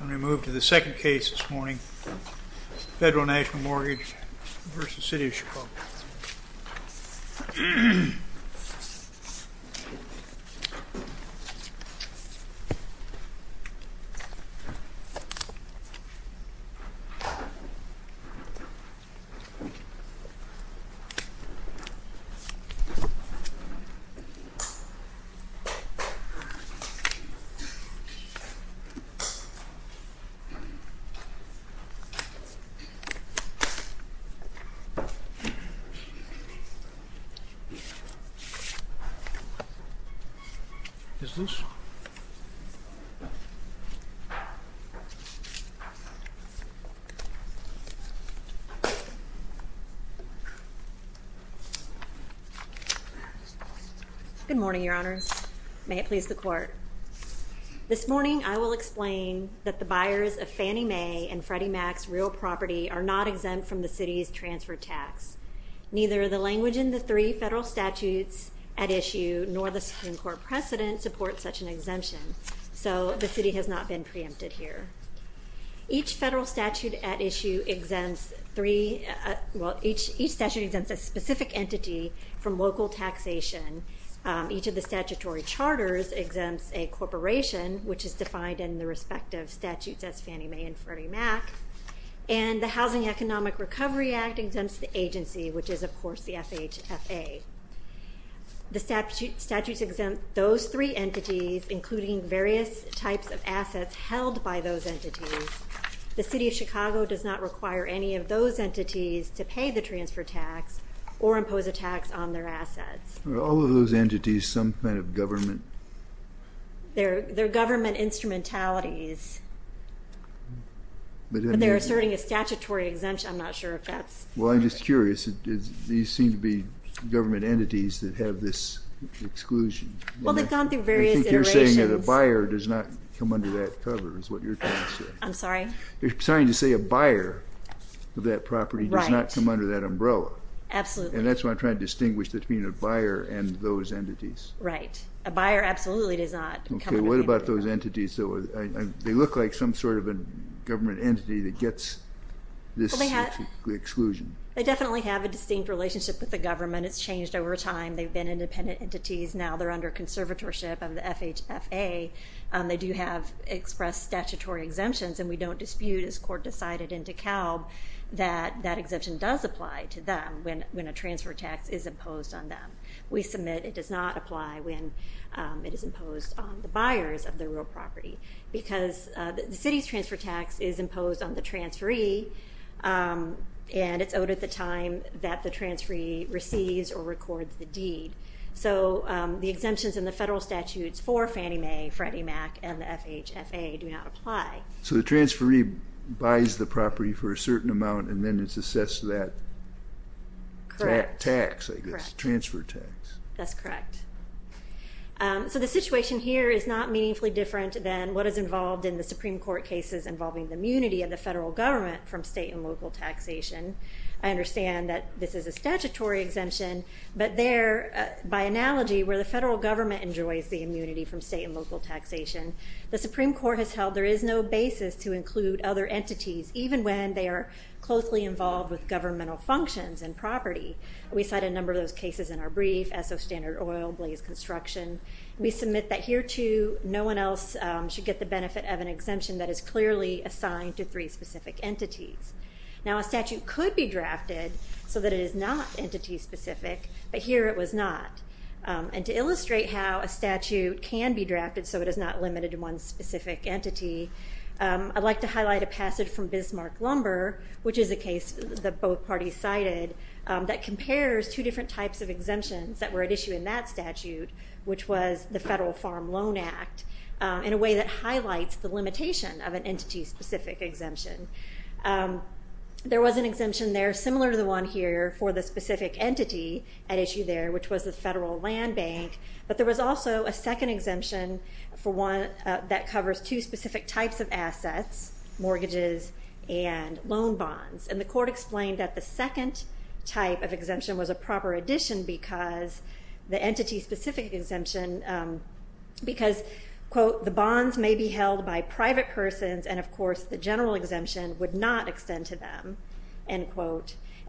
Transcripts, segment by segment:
I'm going to move to the second case this morning, Federal National Mortgage v. City of Chicago. Good morning, Your Honors. May it please the Court. This morning I will explain that the buyers of Fannie Mae and Freddie Mac's real property are not exempt from the City's transfer tax. Neither the language in the three federal statutes at issue nor the Supreme Court precedent supports such an exemption. So the City has not been preempted here. Each federal statute at issue exempts three, well each statute exempts a specific entity from local taxation. Each of the statutory charters exempts a corporation, which is defined in the respective statutes as Fannie Mae and Freddie Mac. And the Housing Economic Recovery Act exempts the agency, which is of course the FHFA. The statutes exempt those three entities, including various types of assets held by those entities. The City of Chicago does not require any of those entities to pay the transfer tax or impose a tax on their assets. Are all of those entities some kind of government? They're government instrumentalities. But they're asserting a statutory exemption. I'm not sure if that's... Well, I'm just curious. These seem to be government entities that have this exclusion. Well, they've gone through various iterations. I think you're saying that a buyer does not come under that cover is what you're trying to say. I'm sorry? You're trying to say a buyer of that property does not come under that umbrella. Absolutely. And that's what I'm trying to distinguish between a buyer and those entities. Right. A buyer absolutely does not come under that umbrella. Okay. What about those entities? They look like some sort of a government entity that gets this exclusion. They definitely have a distinct relationship with the government. It's changed over time. They've been independent entities. Now they're under conservatorship of the FHFA. They do have expressed statutory exemptions, and we don't dispute, as court decided in DeKalb, that that exemption does apply to them when a transfer tax is imposed on them. We submit it does not apply when it is imposed on the buyers of the real property because the city's transfer tax is imposed on the transferee, and it's owed at the time that the transferee receives or records the deed. So the exemptions in the federal statutes for Fannie Mae, Freddie Mac, and the FHFA do not apply. So the transferee buys the property for a certain amount, and then it's assessed to that tax, I guess, transfer tax. That's correct. So the situation here is not meaningfully different than what is involved in the Supreme Court cases involving the immunity of the federal government from state and local taxation. I understand that this is a statutory exemption, but there, by analogy, where the federal government enjoys the immunity from state and local taxation, the Supreme Court has held there is no basis to include other entities, even when they are closely involved with governmental functions and property. We cite a number of those cases in our brief, Esso Standard Oil, Blaze Construction. We submit that here, too, no one else should get the benefit of an exemption that is clearly assigned to three specific entities. Now, a statute could be drafted so that it is not entity-specific, but here it was not. And to illustrate how a statute can be drafted so it is not limited to one specific entity, I'd like to highlight a passage from Bismarck Lumber, which is a case that both parties cited, that compares two different types of exemptions that were at issue in that statute, which was the Federal Farm Loan Act, in a way that highlights the limitation of an entity-specific exemption. There was an exemption there similar to the one here for the specific entity at issue there, which was the Federal Land Bank, but there was also a second exemption that covers two specific types of assets, mortgages and loan bonds. And the court explained that the second type of exemption was a proper addition because the entity-specific exemption, because, quote, the bonds may be held by private persons and, of course, And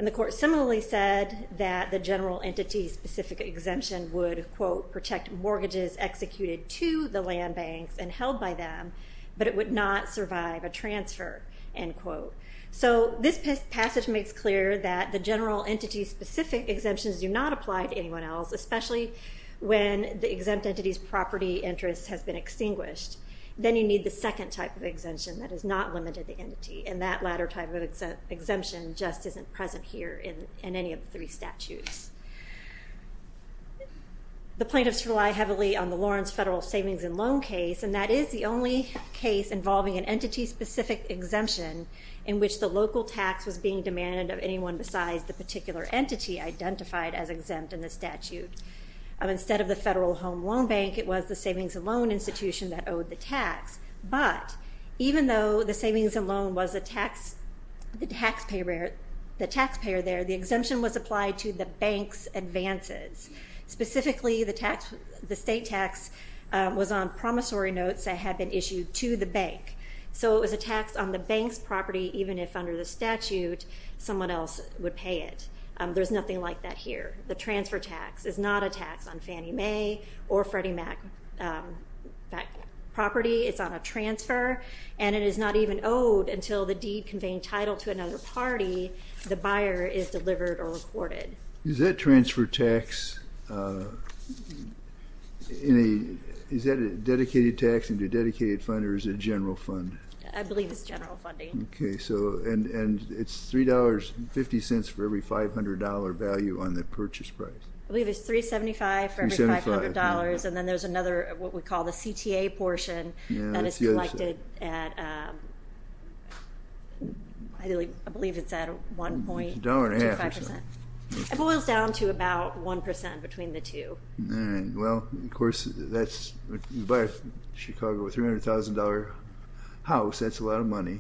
the court similarly said that the general entity-specific exemption would, quote, protect mortgages executed to the land banks and held by them, but it would not survive a transfer, end quote. So this passage makes clear that the general entity-specific exemptions do not apply to anyone else, especially when the exempt entity's property interest has been extinguished. Then you need the second type of exemption that is not limited to the entity, and that latter type of exemption just isn't present here in any of the three statutes. The plaintiffs rely heavily on the Lawrence Federal Savings and Loan case, and that is the only case involving an entity-specific exemption in which the local tax was being demanded of anyone besides the particular entity identified as exempt in the statute. Instead of the Federal Home Loan Bank, it was the Savings and Loan Institution that owed the tax, but even though the savings and loan was the taxpayer there, the exemption was applied to the bank's advances. Specifically, the state tax was on promissory notes that had been issued to the bank. So it was a tax on the bank's property, even if under the statute someone else would pay it. There's nothing like that here. The transfer tax is not a tax on Fannie Mae or Freddie Mac property. It's on a transfer, and it is not even owed until the deed conveying title to another party, the buyer, is delivered or reported. Is that transfer tax in a dedicated tax into a dedicated fund or is it a general fund? I believe it's general funding. Okay, and it's $3.50 for every $500 value on the purchase price. I believe it's $3.75 for every $500. $3.75. And then there's another what we call the CTA portion that is collected at, I believe it's at 1.25%. $1.50 or so. It boils down to about 1% between the two. Well, of course, you buy a Chicago $300,000 house, that's a lot of money,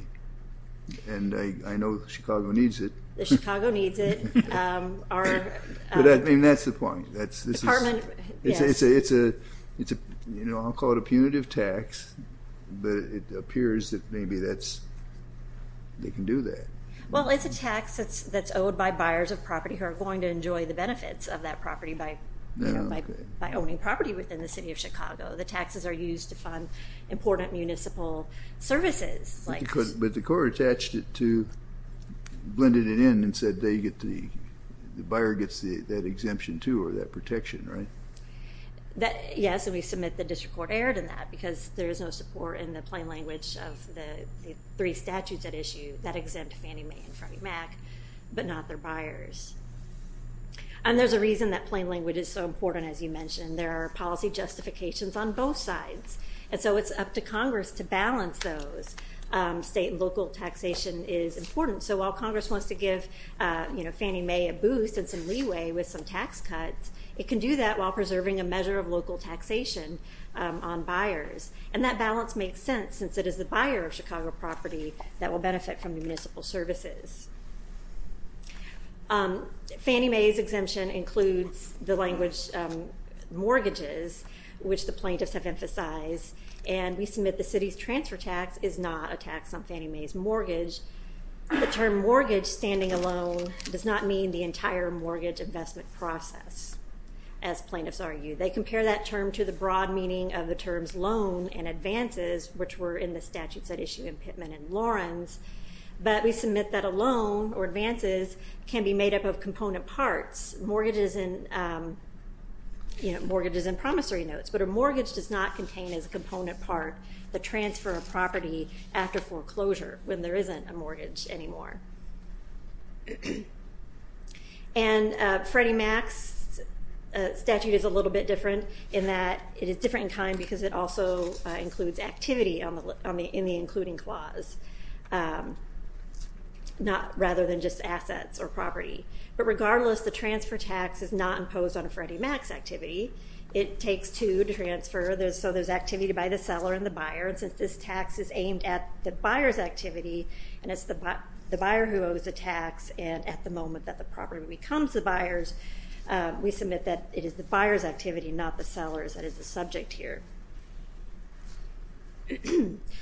and I know Chicago needs it. Chicago needs it. I mean, that's the point. I'll call it a punitive tax, but it appears that maybe they can do that. Well, it's a tax that's owed by buyers of property who are going to enjoy the benefits of that property by owning property within the city of Chicago. The taxes are used to fund important municipal services. But the court attached it to, blended it in and said they get the, the buyer gets that exemption too or that protection, right? Yes, and we submit that district court erred in that because there is no support in the plain language of the three statutes at issue that exempt Fannie Mae and Freddie Mac but not their buyers. And there's a reason that plain language is so important, as you mentioned. There are policy justifications on both sides. And so it's up to Congress to balance those. State and local taxation is important. So while Congress wants to give, you know, Fannie Mae a boost and some leeway with some tax cuts, it can do that while preserving a measure of local taxation on buyers. And that balance makes sense since it is the buyer of Chicago property that will benefit from the municipal services. Fannie Mae's exemption includes the language mortgages, which the plaintiffs have emphasized, and we submit the city's transfer tax is not a tax on Fannie Mae's mortgage. The term mortgage standing alone does not mean the entire mortgage investment process, as plaintiffs argue. They compare that term to the broad meaning of the terms loan and advances, which were in the statutes at issue in Pittman and Lawrence. But we submit that a loan or advances can be made up of component parts, mortgages and promissory notes, but a mortgage does not contain as a component part the transfer of property after foreclosure when there isn't a mortgage anymore. And Freddie Mac's statute is a little bit different in that it is a little bit different in kind because it also includes activity in the including clause, rather than just assets or property. But regardless, the transfer tax is not imposed on a Freddie Mac's activity. It takes two to transfer, so there's activity by the seller and the buyer, and since this tax is aimed at the buyer's activity, and it's the buyer who owes the tax, and at the moment that the property becomes the buyer's, we submit that it is the buyer's activity, not the seller's that is the subject here.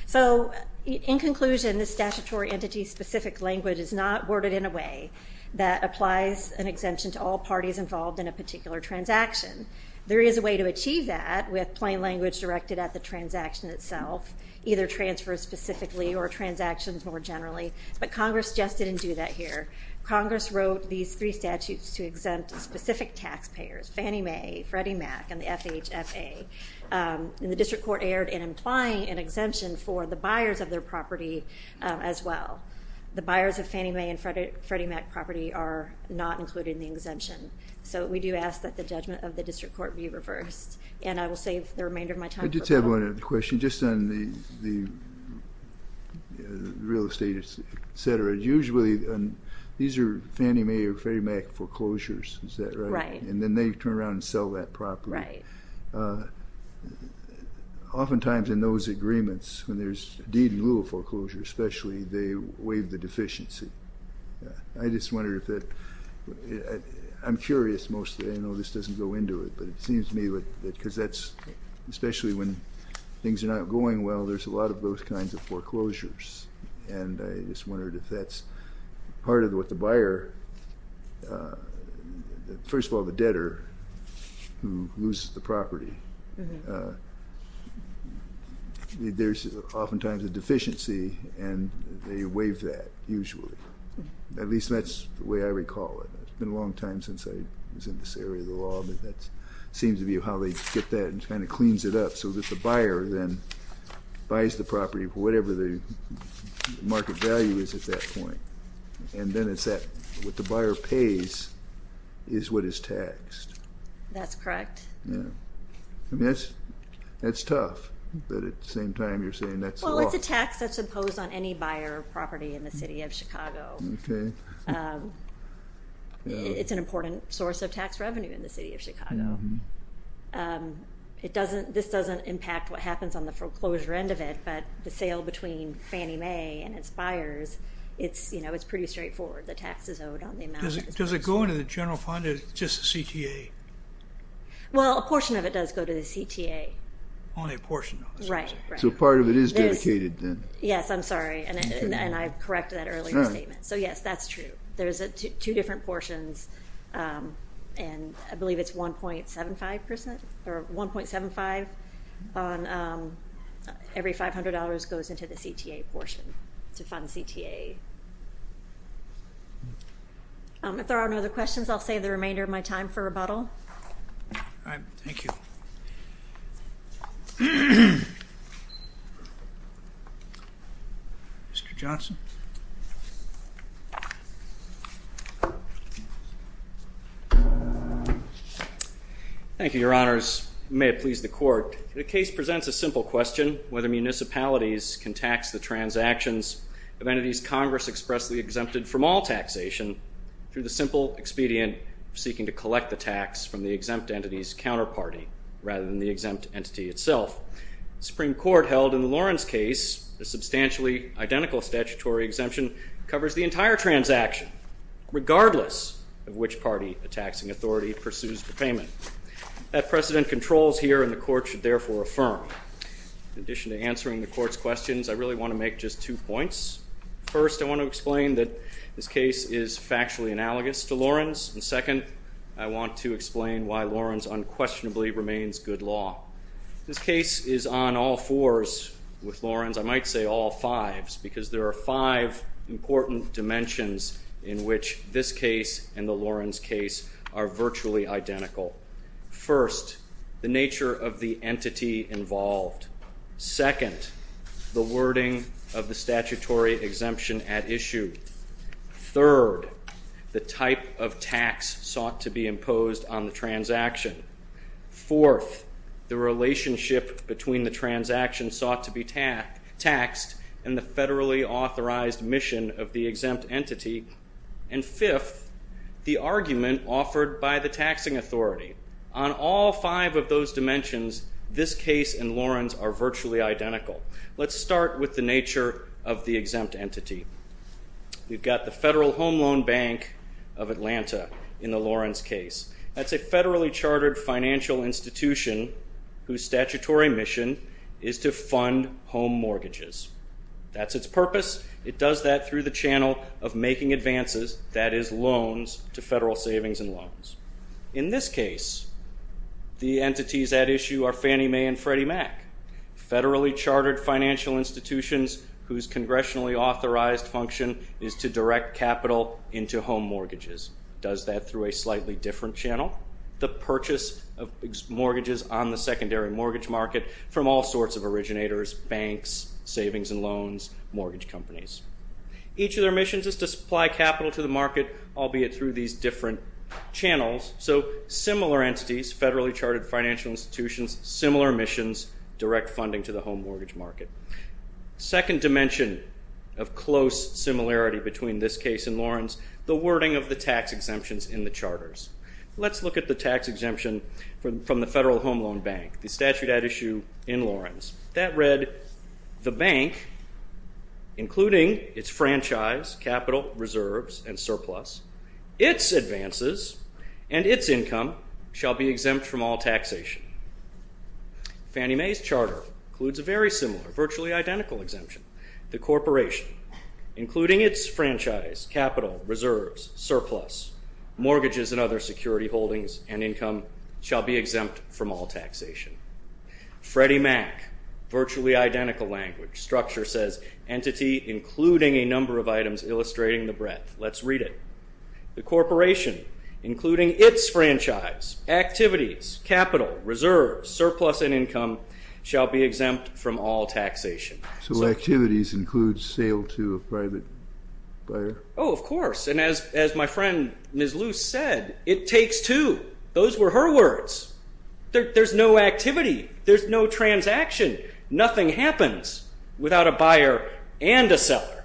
So in conclusion, the statutory entity-specific language is not worded in a way that applies an exemption to all parties involved in a particular transaction. There is a way to achieve that with plain language directed at the transaction itself, either transfers specifically or transactions more generally, but Congress just didn't do that here. Congress wrote these three statutes to exempt specific taxpayers, Fannie Mae, Freddie Mac, and the FHFA, and the District Court erred in implying an exemption for the buyers of their property as well. The buyers of Fannie Mae and Freddie Mac property are not included in the exemption. So we do ask that the judgment of the District Court be reversed, and I will save the remainder of my time. I did have one other question, just on the real estate, et cetera. Usually these are Fannie Mae or Freddie Mac foreclosures, is that right? And then they turn around and sell that property. Right. Oftentimes in those agreements, when there's deed in lieu of foreclosure, especially, they waive the deficiency. I'm curious mostly, I know this doesn't go into it, but it seems to me that, because that's especially when things are not going well, there's a lot of those kinds of foreclosures, and I just wondered if that's part of what the buyer, first of all the debtor who loses the property, there's oftentimes a deficiency, and they waive that usually. At least that's the way I recall it. It's been a long time since I was in this area of the law, but that seems to be how they get that and kind of cleans it up, so that the buyer then buys the property for whatever the market value is at that point, and then what the buyer pays is what is taxed. That's correct. That's tough, but at the same time you're saying that's the law. Well, it's a tax that's imposed on any buyer property in the city of Chicago. Okay. It's an important source of tax revenue in the city of Chicago. This doesn't impact what happens on the foreclosure end of it, but the sale between Fannie Mae and its buyers, it's pretty straightforward. The tax is owed on the amount. Does it go into the general fund or just the CTA? Well, a portion of it does go to the CTA. Only a portion of it. Right, right. So part of it is dedicated then. Yes, I'm sorry, and I corrected that earlier statement. So, yes, that's true. There's two different portions, and I believe it's 1.75 percent or 1.75 on every $500 goes into the CTA portion to fund the CTA. If there are no other questions, I'll save the remainder of my time for rebuttal. All right. Thank you. Mr. Johnson. Thank you, Your Honors. May it please the Court. The case presents a simple question, whether municipalities can tax the transactions of entities Congress expressly exempted from all taxation through the simple expedient seeking to collect the tax from the exempt entity's counterparty rather than the exempt entity itself. The Supreme Court held in the Lawrence case a substantially identical statutory exemption covers the entire transaction, regardless of which party, a taxing authority, pursues the payment. That precedent controls here, and the Court should therefore affirm. In addition to answering the Court's questions, I really want to make just two points. First, I want to explain that this case is factually analogous to Lawrence, and second, I want to explain why Lawrence unquestionably remains good law. This case is on all fours with Lawrence, I might say all fives, because there are five important dimensions in which this case and the Lawrence case are virtually identical. First, the nature of the entity involved. Second, the wording of the statutory exemption at issue. Third, the type of tax sought to be imposed on the transaction. Fourth, the relationship between the transaction sought to be taxed and the federally authorized mission of the exempt entity. And fifth, the argument offered by the taxing authority. On all five of those dimensions, this case and Lawrence are virtually identical. Let's start with the nature of the exempt entity. We've got the Federal Home Loan Bank of Atlanta in the Lawrence case. That's a federally chartered financial institution whose statutory mission is to fund home mortgages. That's its purpose. It does that through the channel of making advances, that is loans to federal savings and loans. In this case, the entities at issue are Fannie Mae and Freddie Mac, federally chartered financial institutions whose congressionally authorized function is to direct capital into home mortgages. It does that through a slightly different channel, the purchase of mortgages on the secondary mortgage market from all sorts of originators, banks, savings and loans, mortgage companies. Each of their missions is to supply capital to the market, albeit through these different channels. So similar entities, federally chartered financial institutions, similar missions, direct funding to the home mortgage market. Second dimension of close similarity between this case and Lawrence, the wording of the tax exemptions in the charters. Let's look at the tax exemption from the Federal Home Loan Bank, the statute at issue in Lawrence. That read, the bank, including its franchise, capital, reserves and surplus, its advances and its income shall be exempt from all taxation. Fannie Mae's charter includes a very similar, virtually identical exemption. The corporation, including its franchise, capital, reserves, surplus, mortgages and other security holdings and income shall be exempt from all taxation. Freddie Mac, virtually identical language, structure says, entity including a number of items illustrating the breadth. Let's read it. The corporation, including its franchise, activities, capital, reserves, surplus and income shall be exempt from all taxation. So activities include sale to a private buyer? Oh, of course. And as my friend Ms. Luce said, it takes two. Those were her words. There's no activity. There's no transaction. Nothing happens without a buyer and a seller.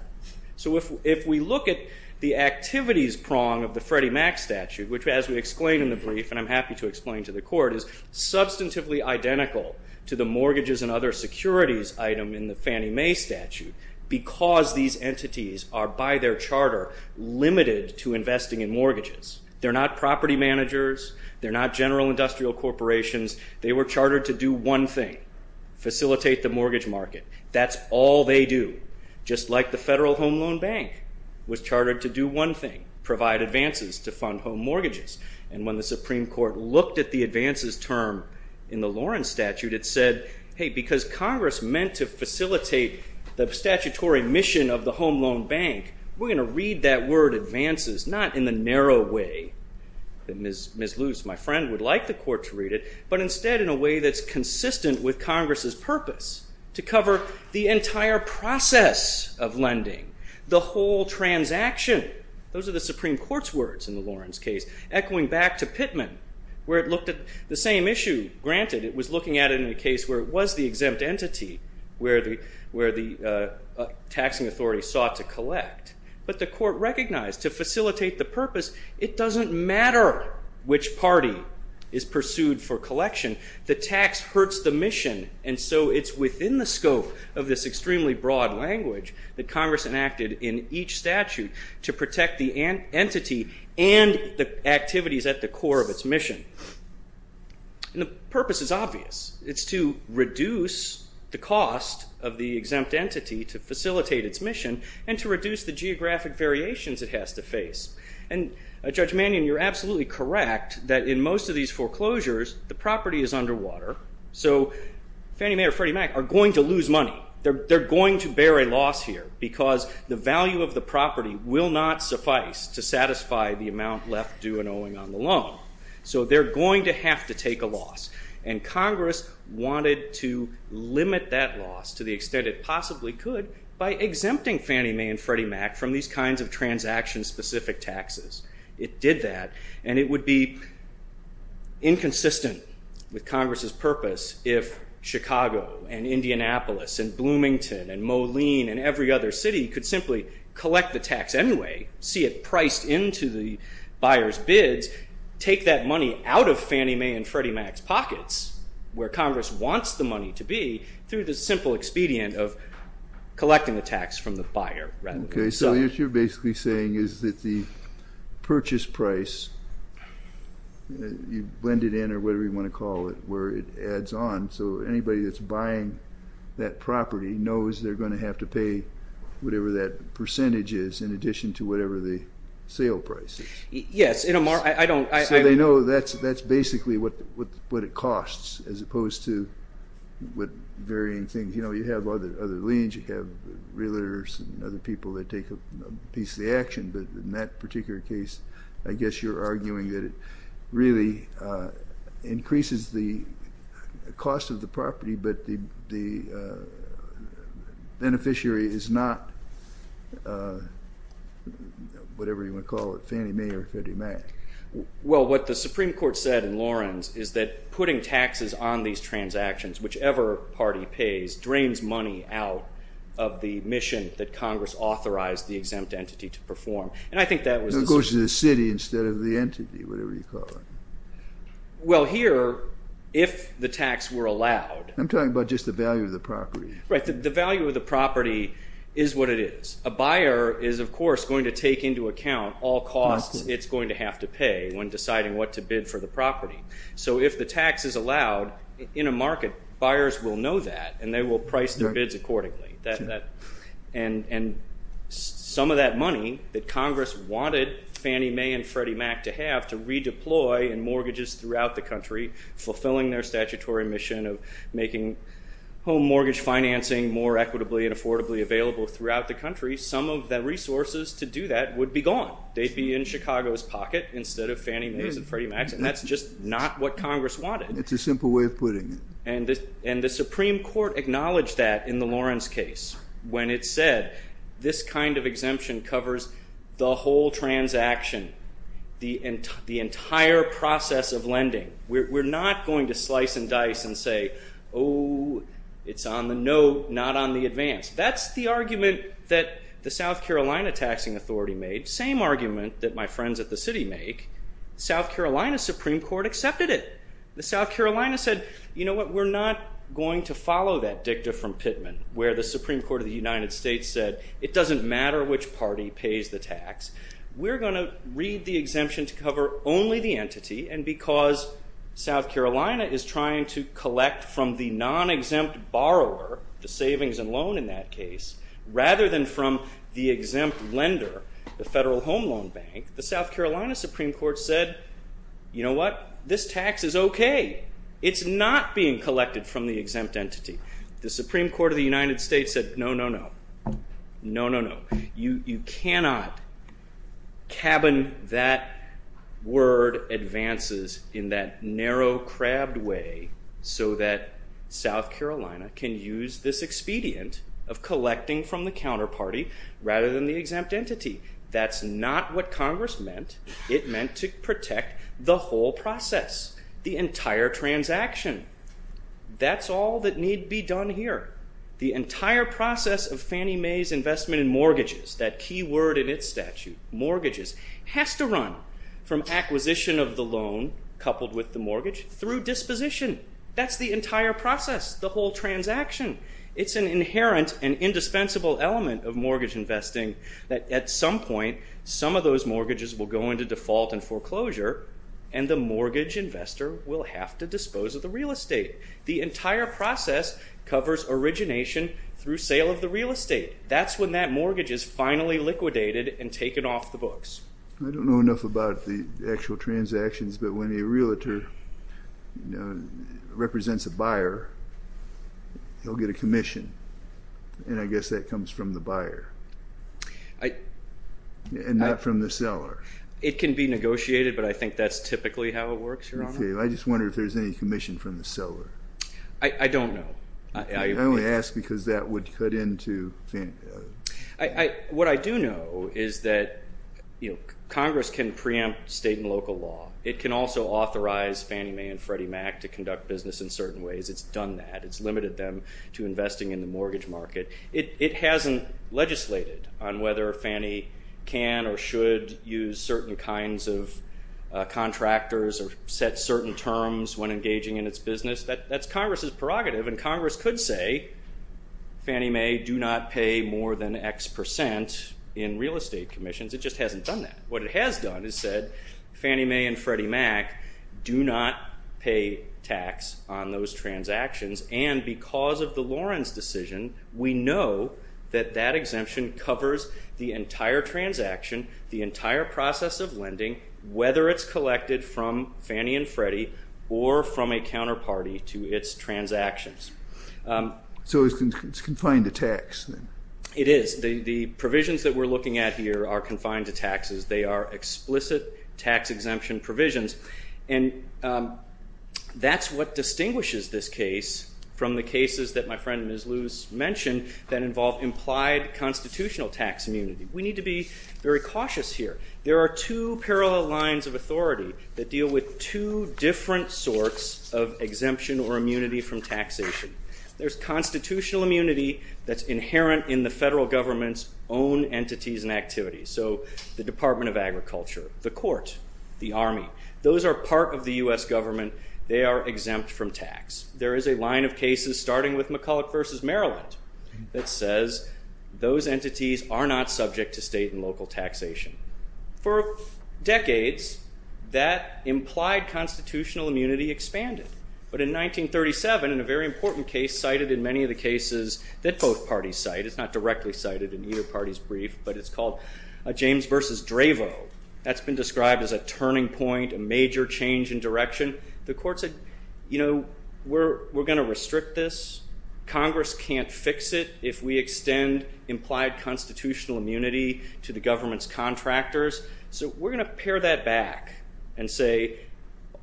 So if we look at the activities prong of the Freddie Mac statute, which as we explained in the brief and I'm happy to explain to the court, is substantively identical to the mortgages and other securities item in the Fannie Mae statute because these entities are, by their charter, limited to investing in mortgages. They're not property managers. They're not general industrial corporations. They were chartered to do one thing, facilitate the mortgage market. That's all they do, just like the Federal Home Loan Bank was chartered to do one thing, provide advances to fund home mortgages. And when the Supreme Court looked at the advances term in the Lawrence statute, it said, hey, because Congress meant to facilitate the statutory mission of the Home Loan Bank, we're going to read that word advances not in the narrow way that Ms. Luce, my friend, would like the court to read it, but instead in a way that's consistent with Congress's purpose to cover the entire process of lending, the whole transaction. Those are the Supreme Court's words in the Lawrence case, echoing back to Pittman, where it looked at the same issue. Granted, it was looking at it in a case where it was the exempt entity, where the taxing authority sought to collect. But the court recognized to facilitate the purpose, it doesn't matter which party is pursued for collection. The tax hurts the mission, and so it's within the scope of this extremely broad language that Congress enacted in each statute to protect the entity and the activities at the core of its mission. And the purpose is obvious. It's to reduce the cost of the exempt entity to facilitate its mission, and to reduce the geographic variations it has to face. Judge Mannion, you're absolutely correct that in most of these foreclosures, the property is underwater. So Fannie Mae or Freddie Mac are going to lose money. They're going to bear a loss here because the value of the property will not suffice to satisfy the amount left due and owing on the loan. So they're going to have to take a loss. And Congress wanted to limit that loss to the extent it possibly could by exempting Fannie Mae and Freddie Mac from these kinds of transaction-specific taxes. It did that, and it would be inconsistent with Congress's purpose if Chicago and Indianapolis and Bloomington and Moline and every other city could simply collect the tax anyway, see it priced into the buyer's bids, take that money out of Fannie Mae and Freddie Mac's pockets where Congress wants the money to be through the simple expedient of collecting the tax from the buyer. Okay, so what you're basically saying is that the purchase price, you blend it in or whatever you want to call it, where it adds on, so anybody that's buying that property knows they're going to have to pay whatever that percentage is in addition to whatever the sale price is. Yes. So they know that's basically what it costs as opposed to varying things. You have other liens, you have realtors and other people that take a piece of the action, but in that particular case, I guess you're arguing that it really increases the cost of the property, but the beneficiary is not whatever you want to call it, Fannie Mae or Freddie Mac. Well, what the Supreme Court said in Lawrence is that putting taxes on these transactions, whichever party pays, drains money out of the mission that Congress authorized the exempt entity to perform, and I think that was- It goes to the city instead of the entity, whatever you call it. Well, here, if the tax were allowed- I'm talking about just the value of the property. Right, the value of the property is what it is. A buyer is, of course, going to take into account all costs it's going to have to pay when deciding what to bid for the property. So if the tax is allowed in a market, buyers will know that, and they will price their bids accordingly. And some of that money that Congress wanted Fannie Mae and Freddie Mac to have to redeploy in mortgages throughout the country, fulfilling their statutory mission of making home mortgage financing more free, some of the resources to do that would be gone. They'd be in Chicago's pocket instead of Fannie Mae's and Freddie Mac's, and that's just not what Congress wanted. It's a simple way of putting it. And the Supreme Court acknowledged that in the Lawrence case when it said, this kind of exemption covers the whole transaction, the entire process of lending. We're not going to slice and dice and say, oh, it's on the note, not on the advance. That's the argument that the South Carolina Taxing Authority made, same argument that my friends at the city make. The South Carolina Supreme Court accepted it. The South Carolina said, you know what, we're not going to follow that dicta from Pittman where the Supreme Court of the United States said it doesn't matter which party pays the tax. We're going to read the exemption to cover only the entity, and because South Carolina is trying to collect from the non-exempt borrower the savings and loan in that case, rather than from the exempt lender, the Federal Home Loan Bank, the South Carolina Supreme Court said, you know what, this tax is okay. It's not being collected from the exempt entity. The Supreme Court of the United States said, no, no, no. No, no, no. You cannot cabin that word advances in that narrow, crabbed way so that South Carolina can use this expedient of collecting from the counterparty rather than the exempt entity. That's not what Congress meant. It meant to protect the whole process, the entire transaction. That's all that need be done here. The entire process of Fannie Mae's investment in mortgages, that key word in its statute, mortgages, has to run from acquisition of the loan coupled with the mortgage through disposition. That's the entire process, the whole transaction. It's an inherent and indispensable element of mortgage investing that at some point some of those mortgages will go into default and foreclosure, and the mortgage investor will have to dispose of the real estate. The entire process covers origination through sale of the real estate. That's when that mortgage is finally liquidated and taken off the books. I don't know enough about the actual transactions, but when a realtor represents a buyer, he'll get a commission, and I guess that comes from the buyer and not from the seller. It can be negotiated, but I think that's typically how it works, Your Honor. I just wonder if there's any commission from the seller. I don't know. I only ask because that would cut into Fannie Mae. What I do know is that Congress can preempt state and local law. It can also authorize Fannie Mae and Freddie Mac to conduct business in certain ways. It's done that. It's limited them to investing in the mortgage market. It hasn't legislated on whether Fannie can or should use certain kinds of contractors or set certain terms when engaging in its business. That's Congress's prerogative, and Congress could say Fannie Mae do not pay more than X percent in real estate commissions. It just hasn't done that. What it has done is said Fannie Mae and Freddie Mac do not pay tax on those transactions, and because of the Lawrence decision, we know that that exemption covers the entire transaction, the entire process of lending, whether it's collected from Fannie and Freddie or from a counterparty to its transactions. So it's confined to tax? It is. The provisions that we're looking at here are confined to taxes. They are explicit tax exemption provisions, and that's what distinguishes this case from the cases that my friend Ms. Luce mentioned that involve implied constitutional tax immunity. We need to be very cautious here. There are two parallel lines of authority that deal with two different sorts of exemption or immunity from taxation. There's constitutional immunity that's inherent in the federal government's own entities and activities, so the Department of Agriculture, the court, the army. Those are part of the U.S. government. They are exempt from tax. There is a line of cases starting with McCulloch v. Maryland that says those entities are not subject to state and local taxation. For decades, that implied constitutional immunity expanded, but in 1937, in a very important case cited in many of the cases that both parties cite, it's not directly cited in either party's brief, but it's called James v. Dravo. That's been described as a turning point, a major change in direction. The court said, you know, we're going to restrict this. Congress can't fix it if we extend implied constitutional immunity to the government's contractors. So we're going to pare that back and say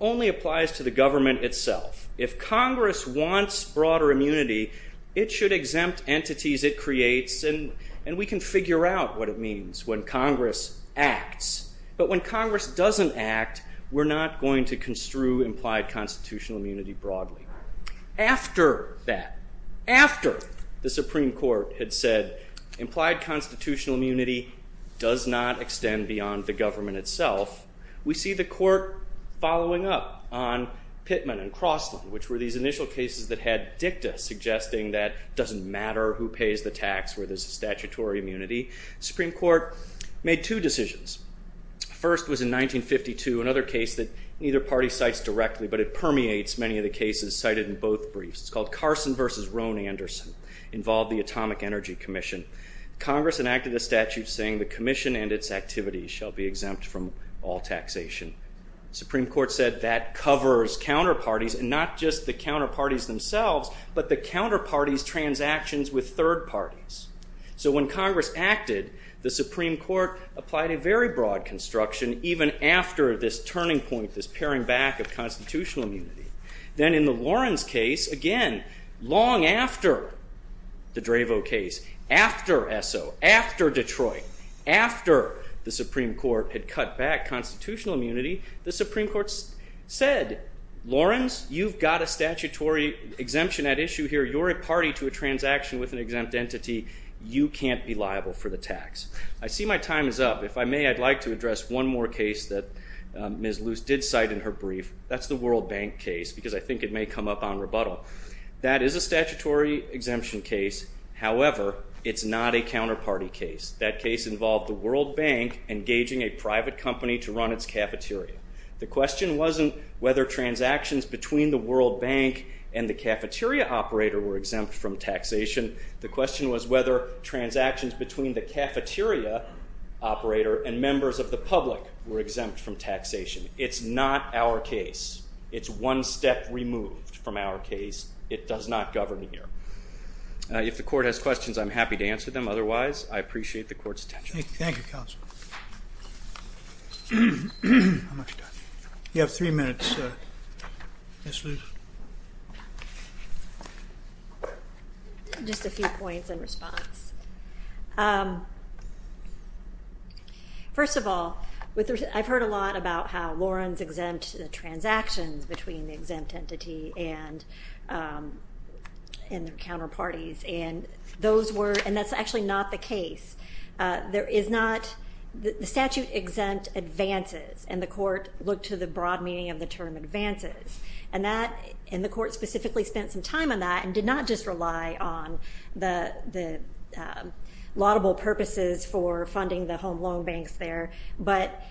only applies to the government itself. If Congress wants broader immunity, it should exempt entities it creates, and we can figure out what it means when Congress acts. But when Congress doesn't act, we're not going to construe implied constitutional immunity broadly. After that, after the Supreme Court had said implied constitutional immunity does not extend beyond the government itself, we see the court following up on Pittman and Crossland, which were these initial cases that had dicta suggesting that it doesn't matter who pays the tax where there's a statutory immunity. The Supreme Court made two decisions. The first was in 1952, another case that neither party cites directly, but it permeates many of the cases cited in both briefs. It's called Carson v. Roan-Anderson. Involved the Atomic Energy Commission. Congress enacted a statute saying the commission and its activities shall be exempt from all taxation. Supreme Court said that covers counterparties and not just the counterparties themselves, but the counterparties' transactions with third parties. So when Congress acted, the Supreme Court applied a very broad construction even after this turning point, this paring back of constitutional immunity. Then in the Lawrence case, again, long after the Dravo case, after Esso, after Detroit, after the Supreme Court had cut back constitutional immunity, the Supreme Court said, Lawrence, you've got a statutory exemption at issue here. You're a party to a transaction with an exempt entity. You can't be liable for the tax. I see my time is up. If I may, I'd like to address one more case that Ms. Luce did cite in her brief. That's the World Bank case because I think it may come up on rebuttal. That is a statutory exemption case. However, it's not a counterparty case. That case involved the World Bank engaging a private company to run its cafeteria. The question wasn't whether transactions between the World Bank and the cafeteria operator were exempt from taxation. The question was whether transactions between the cafeteria operator and members of the public were exempt from taxation. It's not our case. It's one step removed from our case. It does not govern here. If the court has questions, I'm happy to answer them. Otherwise, I appreciate the court's attention. Thank you, counsel. You have three minutes, Ms. Luce. Just a few points in response. First of all, I've heard a lot about how Lawrence exempted the transactions between the exempt entity and their counterparties, and that's actually not the case. The statute exempt advances, and the court looked to the broad meaning of the term advances. And the court specifically spent some time on that and did not just rely on the laudable purposes for funding the home loan banks there, but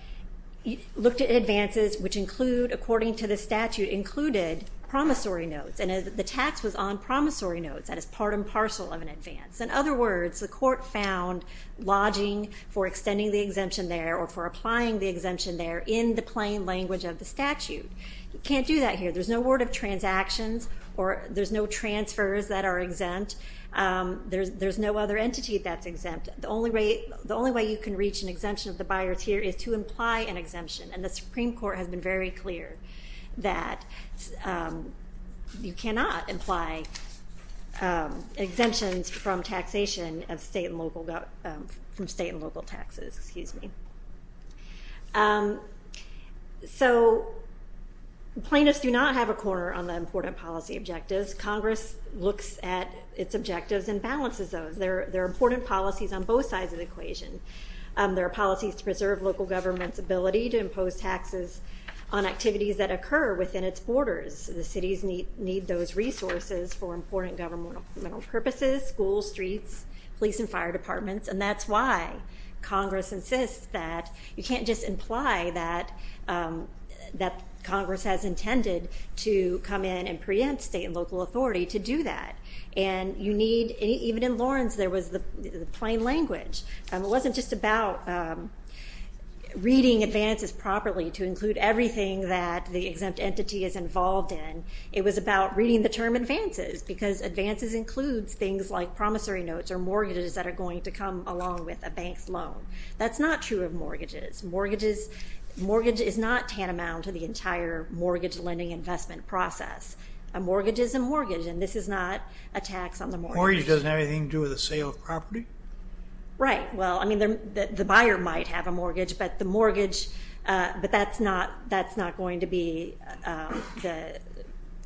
looked at advances which include, according to the statute, included promissory notes, and the tax was on promissory notes. That is part and parcel of an advance. In other words, the court found lodging for extending the exemption there or for applying the exemption there in the plain language of the statute. You can't do that here. There's no word of transactions or there's no transfers that are exempt. There's no other entity that's exempt. The only way you can reach an exemption of the buyers here is to imply an exemption, and the Supreme Court has been very clear that you cannot imply exemptions from taxation of state and local taxes. So plaintiffs do not have a corner on the important policy objectives. Congress looks at its objectives and balances those. There are important policies on both sides of the equation. There are policies to preserve local government's ability to impose taxes on activities that occur within its borders. The cities need those resources for important governmental purposes, schools, streets, police and fire departments, and that's why Congress insists that you can't just imply that Congress has intended to come in and preempt state and local authority to do that. And you need, even in Lawrence, there was the plain language. It wasn't just about reading advances properly to include everything that the exempt entity is involved in. It was about reading the term advances because advances includes things like promissory notes or mortgages that are going to come along with a bank's loan. That's not true of mortgages. Mortgage is not tantamount to the entire mortgage lending investment process. A mortgage is a mortgage, and this is not a tax on the mortgage. Mortgage doesn't have anything to do with the sale of property? Right. Well, I mean, the buyer might have a mortgage, but the mortgage, but that's not going to be the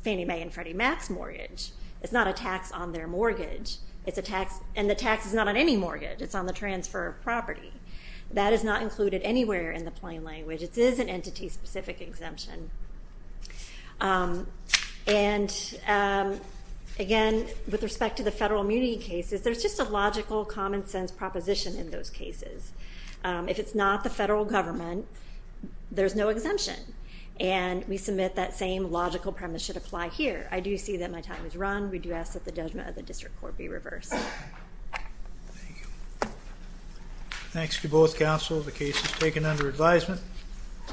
Fannie Mae and Freddie Mac's mortgage. It's not a tax on their mortgage, and the tax is not on any mortgage. It's on the transfer of property. That is not included anywhere in the plain language. It is an entity-specific exemption. And, again, with respect to the federal immunity cases, there's just a logical, common-sense proposition in those cases. If it's not the federal government, there's no exemption, and we submit that same logical premise should apply here. I do see that my time has run. We do ask that the judgment of the district court be reversed. Thank you. Thanks to both counsel. The case is taken under advisement.